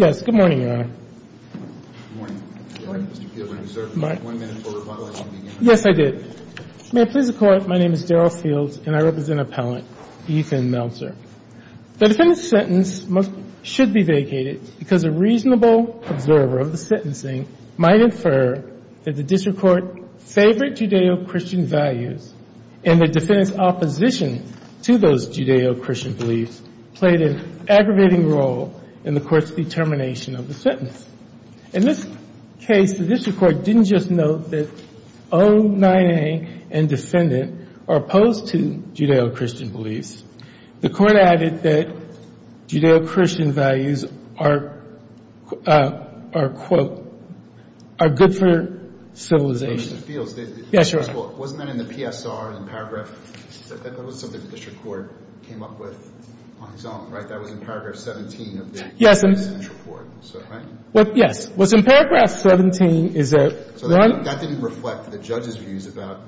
Yes, good morning, Your Honor. Good morning. Good morning, Mr. Fielding. Sir, one minute before rebuttal. Yes, I did. May it please the Court, my name is Daryl Field and I represent an appellant, Ethan Melzer. The defendant's sentence should be vacated because a reasonable observer of the sentencing might infer that the district court favored Judeo-Christian values and the defendant's opposition to those Judeo-Christian beliefs played an aggravating role in the court's determination of the sentence. In this case, the district court didn't just vote that O-9-A and defendant are opposed to Judeo-Christian beliefs. The court added that Judeo-Christian values are, quote, are good for civilization. Mr. Fields. Yes, Your Honor. Wasn't that in the PSR, in paragraph, that was something the district court came up with on its own, right? That was in paragraph 17 of the sentencing report, right? Yes. What's in paragraph 17 is that one So that didn't reflect the judge's views about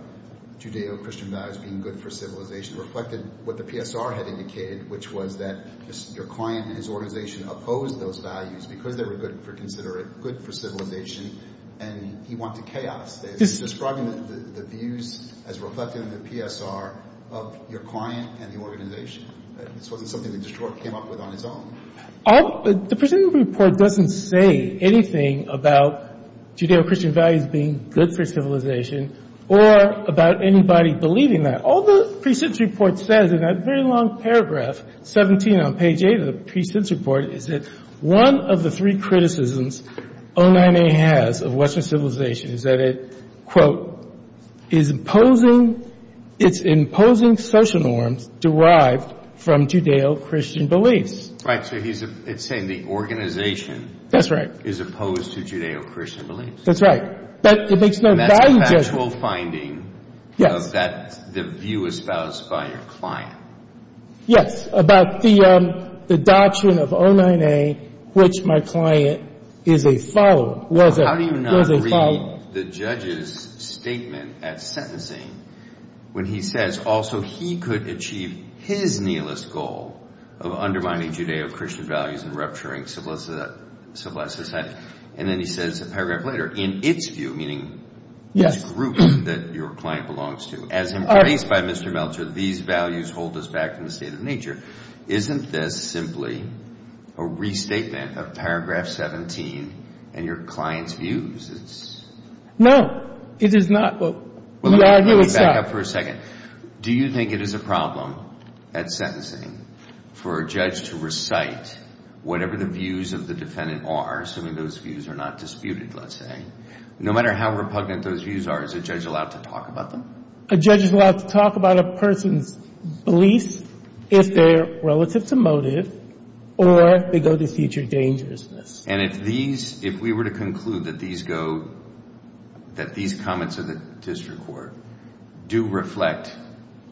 Judeo-Christian values being good for civilization. It reflected what the PSR had indicated, which was that your client and his organization opposed those values because they were good for consideration, good for civilization, and he wanted chaos. It's describing the views as reflected in the PSR of your client and the organization. This wasn't something the district court came up with on its own. All the presented report doesn't say anything about Judeo-Christian values being good for civilization or about anybody believing that. All the pre-sentence report says in that very long paragraph 17 on page 8 of the pre-sentence report is that one of the three criticisms O-9-A has of Western civilization is that it, quote, is imposing its imposing social norms derived from Judeo-Christian beliefs. Right. So it's saying the organization is opposed to Judeo-Christian beliefs. That's right. But it makes no value judgment. And that's a factual finding of that view espoused by your client. Yes. About the doctrine of O-9-A, which my client is a follower, was a follower. The judge's statement at sentencing when he says also he could achieve his nihilist goal of undermining Judeo-Christian values and rupturing civilized society. And then he says a paragraph later, in its view, meaning this group that your client belongs to, as embraced by Mr. Meltzer, these values hold us back from the state of nature. Isn't this simply a restatement of paragraph 17 and your client's views? No, it is not. Well, let me back up for a second. Do you think it is a problem at sentencing for a judge to recite whatever the views of the defendant are, assuming those views are not disputed, let's say? No matter how repugnant those views are, is a judge allowed to talk about them? A judge is allowed to talk about a person's beliefs if they are relative to motive or they go to future dangerousness. And if these, if we were to conclude that these go, that these comments of the district court do reflect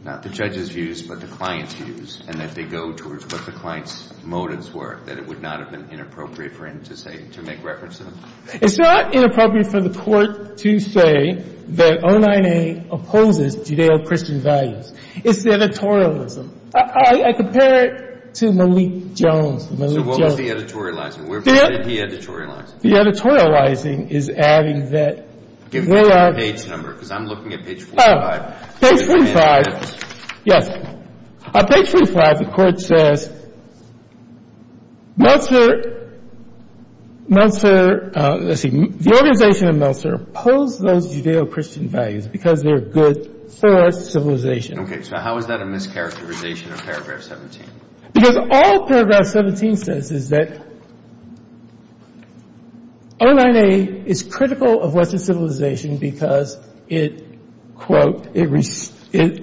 not the judge's views, but the client's views, and that they go towards what the client's motives were, that it would not have been inappropriate for him to say, to make reference to them? It's not inappropriate for the court to say that 09A opposes Judeo-Christian values. It's the editorialism. I compare it to Malik Jones, Malik Jones. So what was the editorializing? Where did he editorialize it? The editorializing is adding that. Give me the page number, because I'm looking at page 45. Page 45, yes. Page 45, the court says, Meltzer, Meltzer, let's see, the organization of Meltzer opposed those Judeo-Christian values because they're good for civilization. Okay, so how is that a mischaracterization of paragraph 17? Because all paragraph 17 says is that 09A is critical of Western civilization because it, quote, it restrains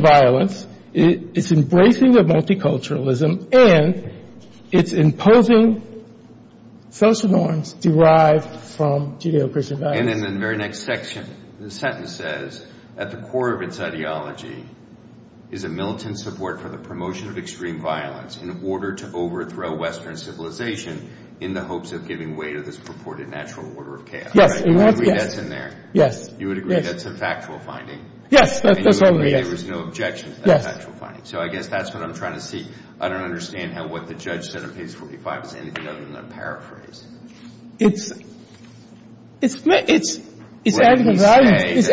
violence, it's embracing the multiculturalism, and it's imposing social norms derived from Judeo-Christian values. And in the very next section, the sentence says, at the core of its ideology is a militant support for the promotion of extreme violence in order to overthrow Western civilization in the hopes of giving way to this purported natural order of chaos. Yes. I agree that's in there. Yes. You would agree that's a factual finding. Yes, that's what it is. And you would agree there was no objection to that factual finding. Yes. So I guess that's what I'm trying to see. I don't understand how what the judge said in page 45 is anything other than a paraphrase. It's, it's, it's, it's adding a value judgment. It's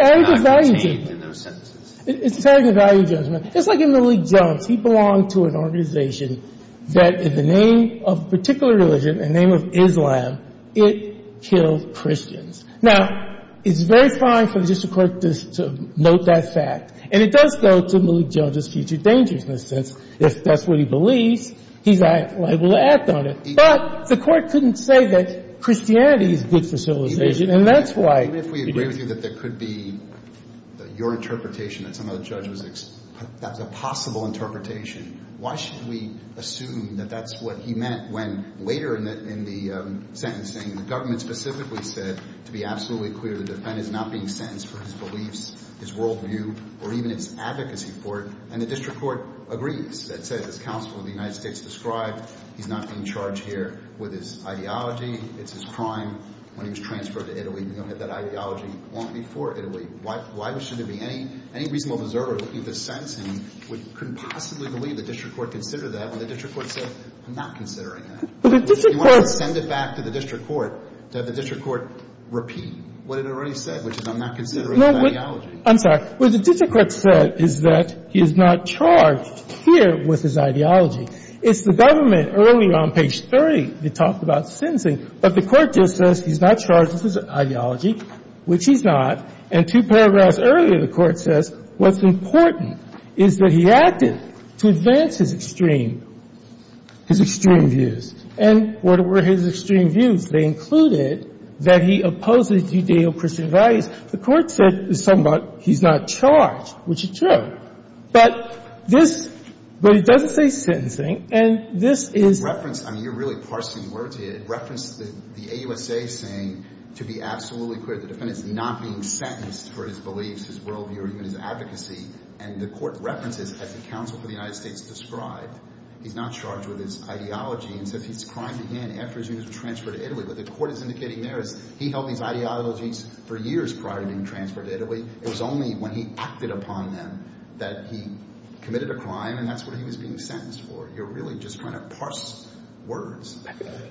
adding a value judgment. Just like in Malik Jones, he belonged to an organization that in the name of a particular religion, in the name of Islam, it killed Christians. Now, it's very fine for the district court to note that fact. And it does go to Malik Jones' future dangers in a sense. If that's what he believes, he's liable to act on it. But the court couldn't say that Christianity is good for civilization, and that's why. Even if we agree with you that there could be your interpretation that some of the judge was that was a possible interpretation, why should we assume that that's what he meant when later in the sentencing, the government specifically said, to be absolutely clear, the defendant is not being sentenced for his beliefs, his worldview, or even his advocacy for it. And the district court agrees. That says, as counsel of the United States described, he's not being charged here with his ideology. It's his crime. When he was transferred to Italy, we know that that ideology wasn't before Italy. Why should there be any reasonable observer looking at this sentencing who couldn't possibly believe the district court considered that when the district court said, I'm not considering that. You want to send it back to the district court to have the district court repeat what it already said, which is, I'm not considering his ideology. I'm sorry. What the district court said is that he is not charged here with his ideology. It's the government. Early on, page 30, they talked about sentencing. But the court just says he's not charged with his ideology, which he's not. And two paragraphs earlier, the court says what's important is that he acted to advance his extreme – his extreme views. And what were his extreme views? They included that he opposed the Judeo-Christian values. The court said somewhat he's not charged, which is true. But this – but it doesn't say sentencing. And this is – the court did reference the AUSA saying, to be absolutely clear, the defendant's not being sentenced for his beliefs, his worldview, or even his advocacy. And the court references, as the counsel for the United States described, he's not charged with his ideology and says he's crying the hand after his views were transferred to Italy. What the court is indicating there is he held these ideologies for years prior to being transferred to Italy. It was only when he acted upon them that he committed a crime, and that's what he was being sentenced for. You're really just trying to parse words.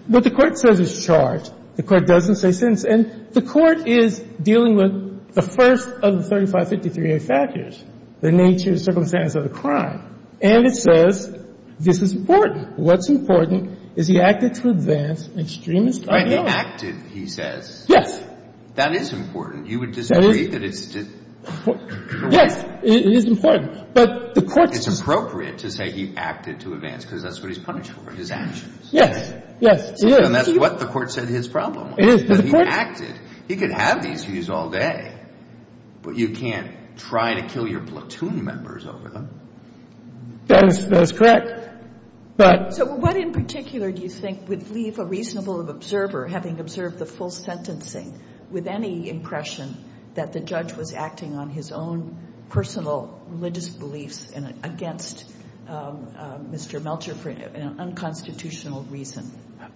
But the court says he's charged. The court doesn't say sentence. And the court is dealing with the first of the 3553A factors, the nature, circumstance of the crime. And it says this is important. What's important is he acted to advance an extremist ideology. Right. He acted, he says. Yes. That is important. You would disagree that it's – Yes. It is important. But the court says – His actions. Yes. Yes, it is. And that's what the court said his problem was. It is. That he acted. He could have these views all day, but you can't try to kill your platoon members over them. That is correct. But – So what in particular do you think would leave a reasonable observer, having observed the full sentencing, with any impression that the judge was acting on his own personal religious beliefs and against Mr. Melcher for an unconstitutional reason?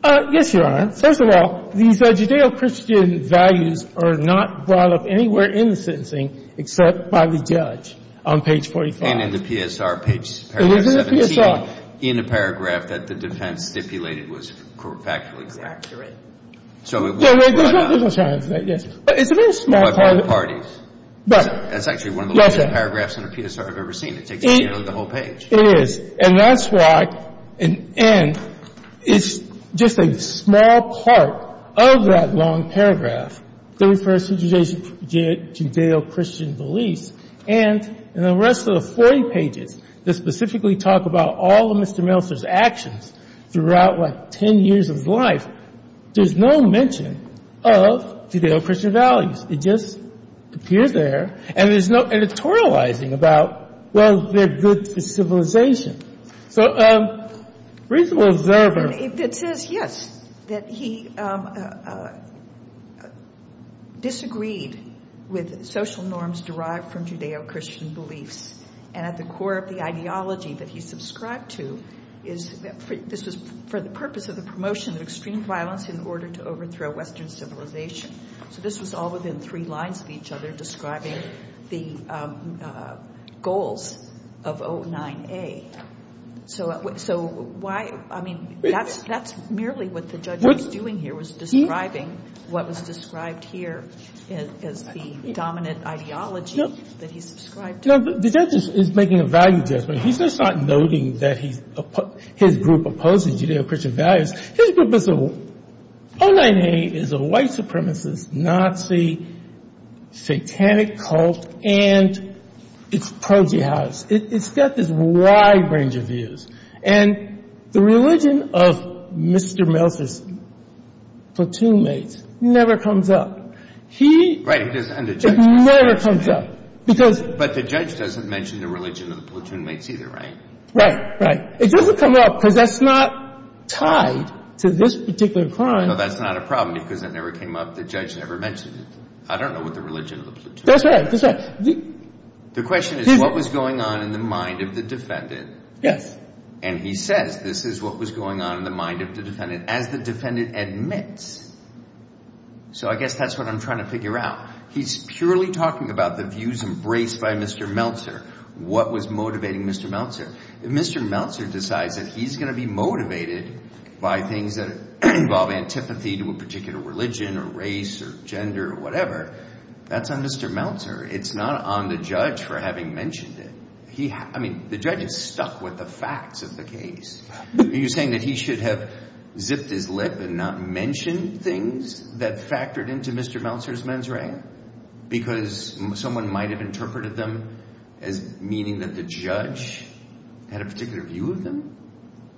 Yes, Your Honor. First of all, these Judeo-Christian values are not brought up anywhere in the sentencing except by the judge on page 45. And in the PSR, page 17, in a paragraph that the defense stipulated was factually correct. Exactly right. So it was brought up – There's no chance that, yes. But it's a very small part of – By both parties. But – That's actually one of the – Paragraphs in a PSR I've ever seen. It takes, you know, the whole page. It is. And that's why – and it's just a small part of that long paragraph that refers to Judeo-Christian beliefs. And in the rest of the 40 pages that specifically talk about all of Mr. Melcher's actions throughout, like, 10 years of his life, there's no mention of Judeo-Christian values. It just appears there. And there's no editorializing about, well, they're good civilization. So reasonable observer – And it says, yes, that he disagreed with social norms derived from Judeo-Christian beliefs. And at the core of the ideology that he subscribed to is – this was for the purpose of the promotion of extreme violence in order to overthrow Western civilization. So this was all within three lines of each other describing the goals of 09A. So why – I mean, that's merely what the judge was doing here, was describing what was described here as the dominant ideology that he subscribed to. No, the judge is making a value judgment. He's just not noting that his group opposes Judeo-Christian values. His group is – 09A is a white supremacist, Nazi, satanic cult, and it's pro-Jihadist. It's got this wide range of views. And the religion of Mr. Melcher's platoon mates never comes up. He – Right. And the judge – It never comes up. Because – But the judge doesn't mention the religion of the platoon mates either, right? Right, right. It doesn't come up because that's not tied to this particular crime. No, that's not a problem because it never came up. The judge never mentioned it. I don't know what the religion of the platoon – That's right. That's right. The question is what was going on in the mind of the defendant. Yes. And he says this is what was going on in the mind of the defendant as the defendant admits. So I guess that's what I'm trying to figure out. He's purely talking about the views embraced by Mr. Melcher. What was motivating Mr. Melcher? If Mr. Melcher decides that he's going to be motivated by things that involve antipathy to a particular religion or race or gender or whatever, that's on Mr. Melcher. It's not on the judge for having mentioned it. He – I mean, the judge is stuck with the facts of the case. You're saying that he should have zipped his lip and not mention things that factored into Mr. Melcher's mens rea because someone might have interpreted them as meaning that the judge had a particular view of them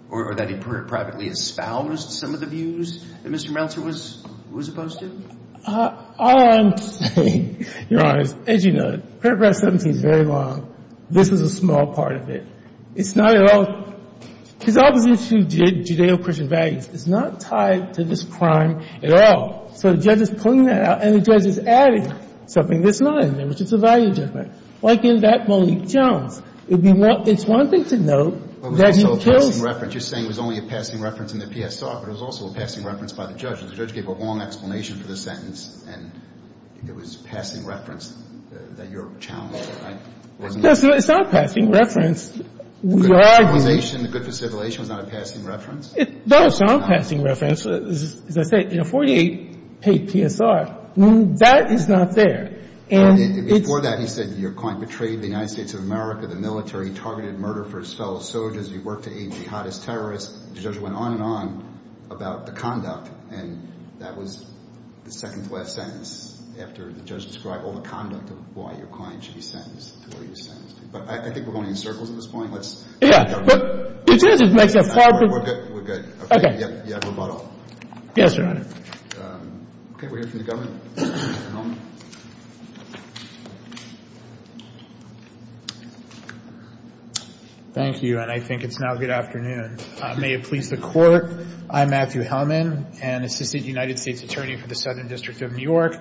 or that he privately espoused some of the views that Mr. Melcher was opposed to? All I'm saying, Your Honor, is as you know, paragraph 17 is very long. This is a small part of it. It's not at all – his opposition to Judeo-Christian values is not tied to this crime at all. So the judge is pulling that out, and the judge is adding something that's not in there, which is a value judgment. Like in that Malik Jones, it's one thing to note that he kills – But it was also a passing reference. You're saying it was only a passing reference in the PSR, but it was also a passing reference by the judge. And the judge gave a long explanation for the sentence, and it was a passing reference that you're challenging, right? No, sir. It's not a passing reference. Your argument – The good for civilization, the good for civilization was not a passing reference? No, it's not a passing reference. As I say, 48 paid PSR. That is not there. And it's – Before that, he said your client betrayed the United States of America, the military, targeted murder for his fellow soldiers. He worked to aid jihadist terrorists. The judge went on and on about the conduct, and that was the second-to-last sentence after the judge described all the conduct of why your client should be sentenced to where he was sentenced to. But I think we're going in circles at this point. Let's – Yeah, but the judge is making a far – We're good. We're good. Okay. Yeah, we're about all. Yes, Your Honor. Okay. We'll hear from the government. Mr. Hellman. Thank you, and I think it's now good afternoon. May it please the Court, I'm Matthew Hellman, an assistant United States attorney for the Southern District of New York.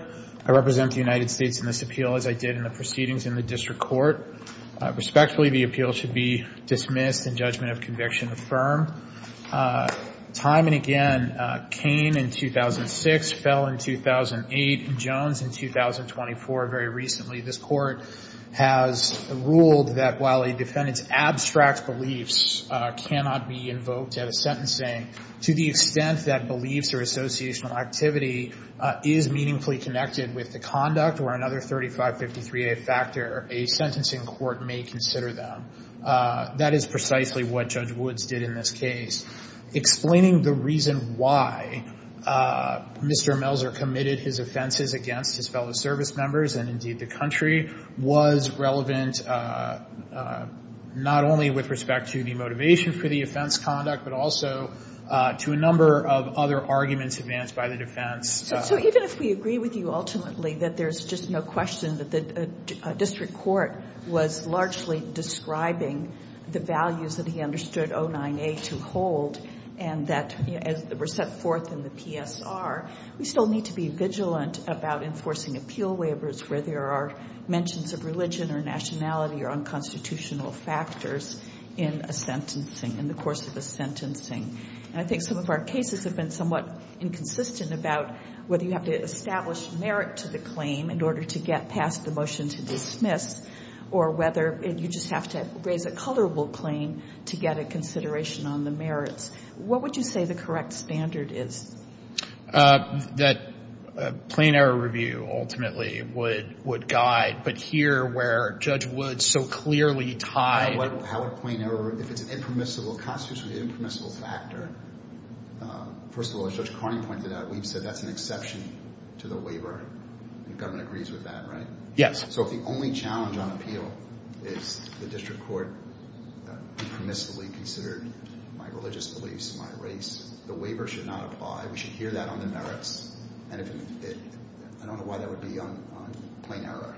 I represent the United States in this appeal, as I did in the proceedings in the district court. Respectfully, the appeal should be dismissed and judgment of conviction affirmed. Time and again, Kane in 2006, Fell in 2008, Jones in 2024. Very recently, this Court has ruled that while a defendant's abstract beliefs cannot be invoked at a sentencing, to the extent that beliefs or associational activity is meaningfully connected with the another 3553A factor, a sentencing court may consider them. That is precisely what Judge Woods did in this case. Explaining the reason why Mr. Melser committed his offenses against his fellow service members, and indeed the country, was relevant not only with respect to the motivation for the offense conduct, but also to a number of other arguments advanced by the defense. So even if we agree with you ultimately that there's just no question that the district court was largely describing the values that he understood 09A to hold, and that were set forth in the PSR, we still need to be vigilant about enforcing appeal waivers where there are mentions of religion or nationality or unconstitutional factors in a sentencing, in the course of a sentencing. And I think some of our cases have been somewhat inconsistent about whether you have to establish merit to the claim in order to get past the motion to dismiss, or whether you just have to raise a colorable claim to get a consideration on the merits. What would you say the correct standard is? That plain error review ultimately would guide, but here where Judge Woods so clearly tied... How would plain error, if it's an impermissible, constitutionally impermissible factor... First of all, as Judge Carney pointed out, we've said that's an exception to the waiver, and government agrees with that, right? Yes. So if the only challenge on appeal is the district court impermissibly considered my religious beliefs, my race, the waiver should not apply. We should hear that on the merits, and I don't know why that would be on plain error,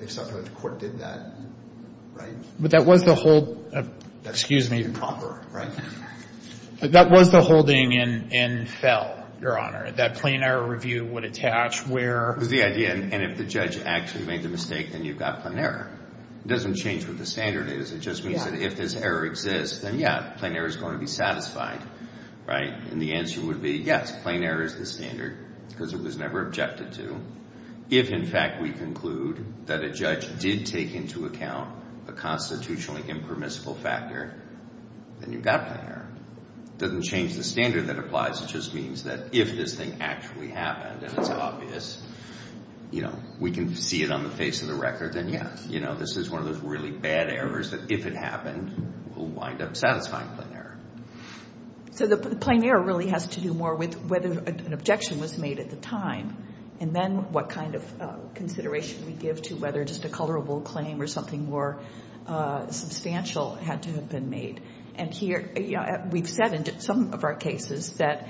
except that the court did that, right? But that was the whole... Excuse me. That was the holding in Fell, Your Honor, that plain error review would attach where... It was the idea, and if the judge actually made the mistake, then you've got plain error. It doesn't change what the standard is. It just means that if this error exists, then yeah, plain error is going to be satisfied, right? And the answer would be yes, plain error is the standard, because it was never objected to. If, in fact, we conclude that a judge did take into account a constitutionally impermissible factor, then you've got plain error. It doesn't change the standard that applies. It just means that if this thing actually happened, and it's obvious, we can see it on the face of the record, then yeah, this is one of those really bad errors that, if it happened, will wind up satisfying plain error. So the plain error really has to do more with whether an objection was made at the time, and then what kind of consideration we give to whether just a colorable claim or something more substantial had to have been made. And here, we've said in some of our cases that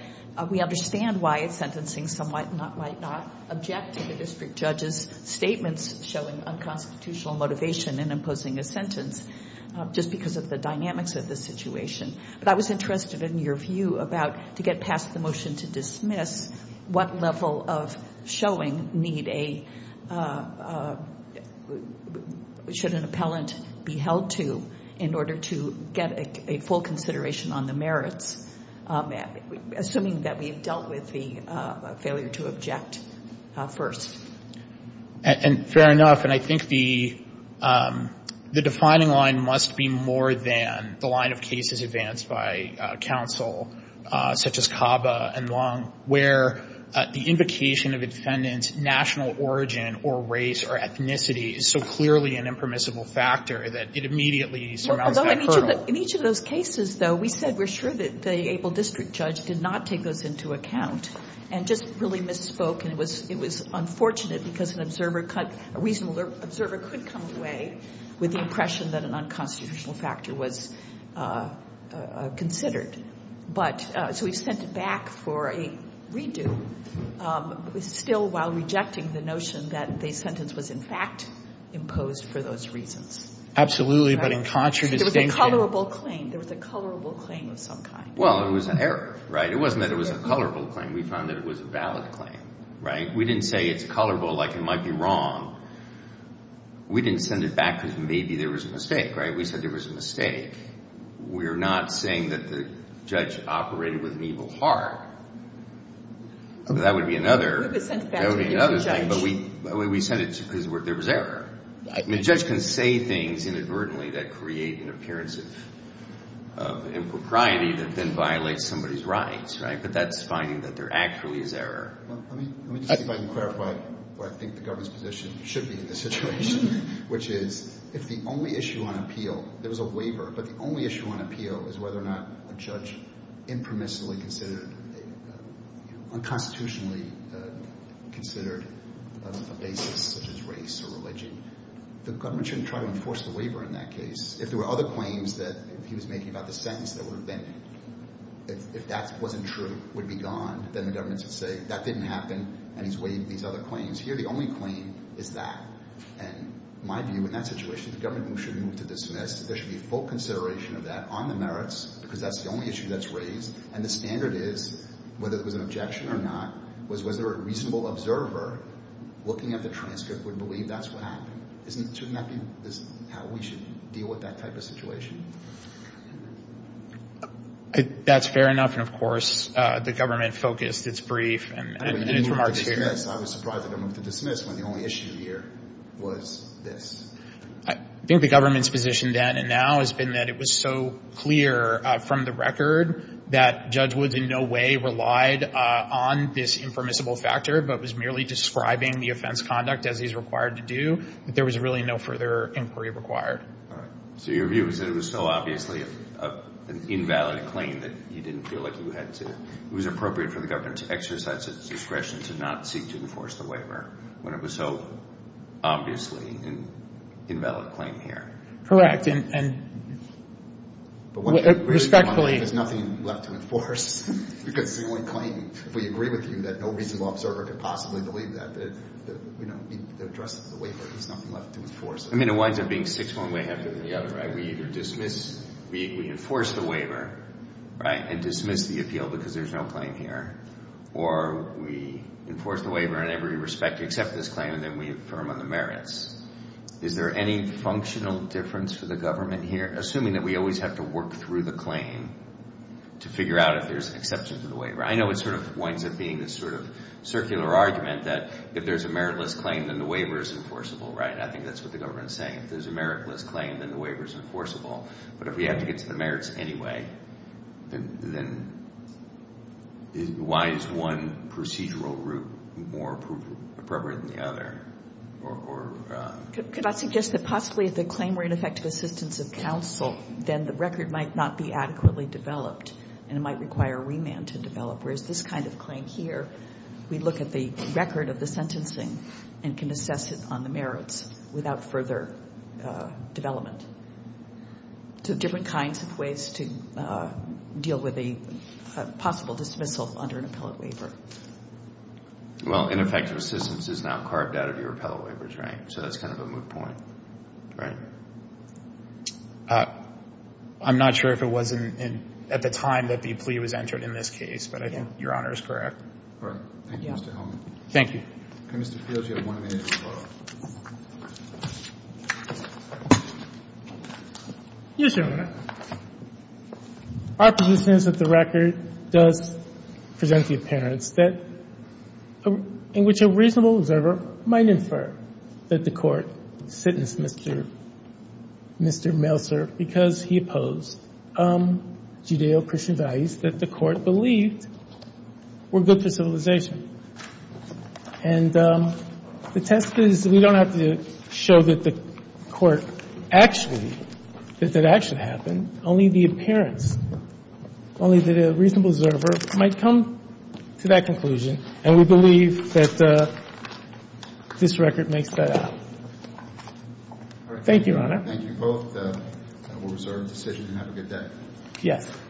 we understand why it's sentencing. Some might not object to the district judge's statements showing unconstitutional motivation in imposing a sentence just because of the dynamics of the situation. But I was interested in your view about, to get past the motion to dismiss, what level of showing should an appellant be held to in order to get a full consideration on the merits, assuming that we've dealt with the failure to object first? And fair enough. And I think the defining line must be more than the line of cases advanced by counsel, such as Cava and Long, where the invocation of a defendant's national origin or race or ethnicity is so clearly an impermissible factor that it immediately surmounts that hurdle. In each of those cases, though, we said we're sure that the able district judge did not take those into account and just really misspoke. And it was unfortunate because a reasonable observer could come away with the impression that an unconstitutional factor was considered. But so we've sent it back for a redo, still while rejecting the notion that the sentence was, in fact, imposed for those reasons. Absolutely. But in contradistinction... There was a colorable claim. There was a colorable claim of some kind. Well, it was an error, right? It wasn't that it was a colorable claim. We found that it was a valid claim, right? We didn't say it's colorable, like it might be wrong. We didn't send it back because maybe there was a mistake, right? We said there was a mistake. We're not saying that the judge operated with an evil heart. That would be another... But we sent it because there was error. I mean, a judge can say things inadvertently that create an appearance of impropriety that then violates somebody's rights, right? But that's finding that there actually is error. Well, let me just see if I can clarify what I think the government's position should be in this situation, which is if the only issue on appeal, there was a waiver, but the only issue on appeal is whether or not a judge impermissibly considered, unconstitutionally considered a basis of his race or religion, the government shouldn't try to enforce the waiver in that case. If there were other claims that he was making about the sentence that would have been... If that wasn't true, would be gone, then the government would say, that didn't happen, and he's waived these other claims. Here, the only claim is that. And my view in that situation, the government should move to dismiss. There should be full consideration of that on the merits because that's the only issue that's raised. And the standard is, whether it was an objection or not, was there a reasonable observer looking at the transcript would believe that's what happened. Shouldn't that be how we should deal with that type of situation? That's fair enough. And of course, the government focused its brief and its remarks here. I was surprised that they moved to dismiss when the only issue here was this. I think the government's position then and now has been that it was so clear from the record that Judge Woods in no way relied on this impermissible factor, but was merely describing the offense conduct as he's required to do, that there was really no further inquiry required. So your view is that it was so obviously an invalid claim that you didn't feel like you had to... It was appropriate for the government to exercise its discretion to not seek to enforce the waiver when it was so obviously an invalid claim here. Correct. And respectfully... There's nothing left to enforce because the only claim, if we agree with you, that no reasonable observer could possibly believe that, that, you know, the address of the waiver, there's nothing left to enforce. I mean, it winds up being six one way after the other, right? We either dismiss, we enforce the waiver, right, and dismiss the appeal because there's no claim here, or we enforce the waiver in every respect to accept this claim, and then we affirm on the merits. Is there any functional difference for the government here, assuming that we always have to work through the claim to figure out if there's an exception to the waiver? I know it sort of winds up being this sort of circular argument that if there's a meritless claim, then the waiver is enforceable, right? I think that's what the government's saying. If there's a meritless claim, then the waiver is enforceable. But if we have to get to the merits anyway, then why is one procedural route more appropriate than the other? Could I suggest that possibly if the claim were in effect to assistance of counsel, then the record might not be adequately developed, and it might require a remand to develop, whereas this kind of claim here, we look at the record of the sentencing and can assess it on the merits without further development. So different kinds of ways to deal with a possible dismissal under an appellate waiver. Well, ineffective assistance is now carved out of your appellate waiver, right? So that's kind of a moot point, right? I'm not sure if it was at the time that the plea was entered in this case, but I think your Honor is correct. All right. Thank you, Mr. Gideon. Yes, Your Honor. Our position is that the record does present the appearance that in which a reasonable observer might infer that the court sentenced Mr. Melser because he opposed Judeo-Christian values that the court believed were good for civilization. And the test is we don't have to show that the court actually, that that actually happened, only the appearance, only that a reasonable observer might come to that conclusion, and we believe that this record makes that up. Thank you, Your Honor. Thank you both. We'll reserve the decision and have a good day. Yes.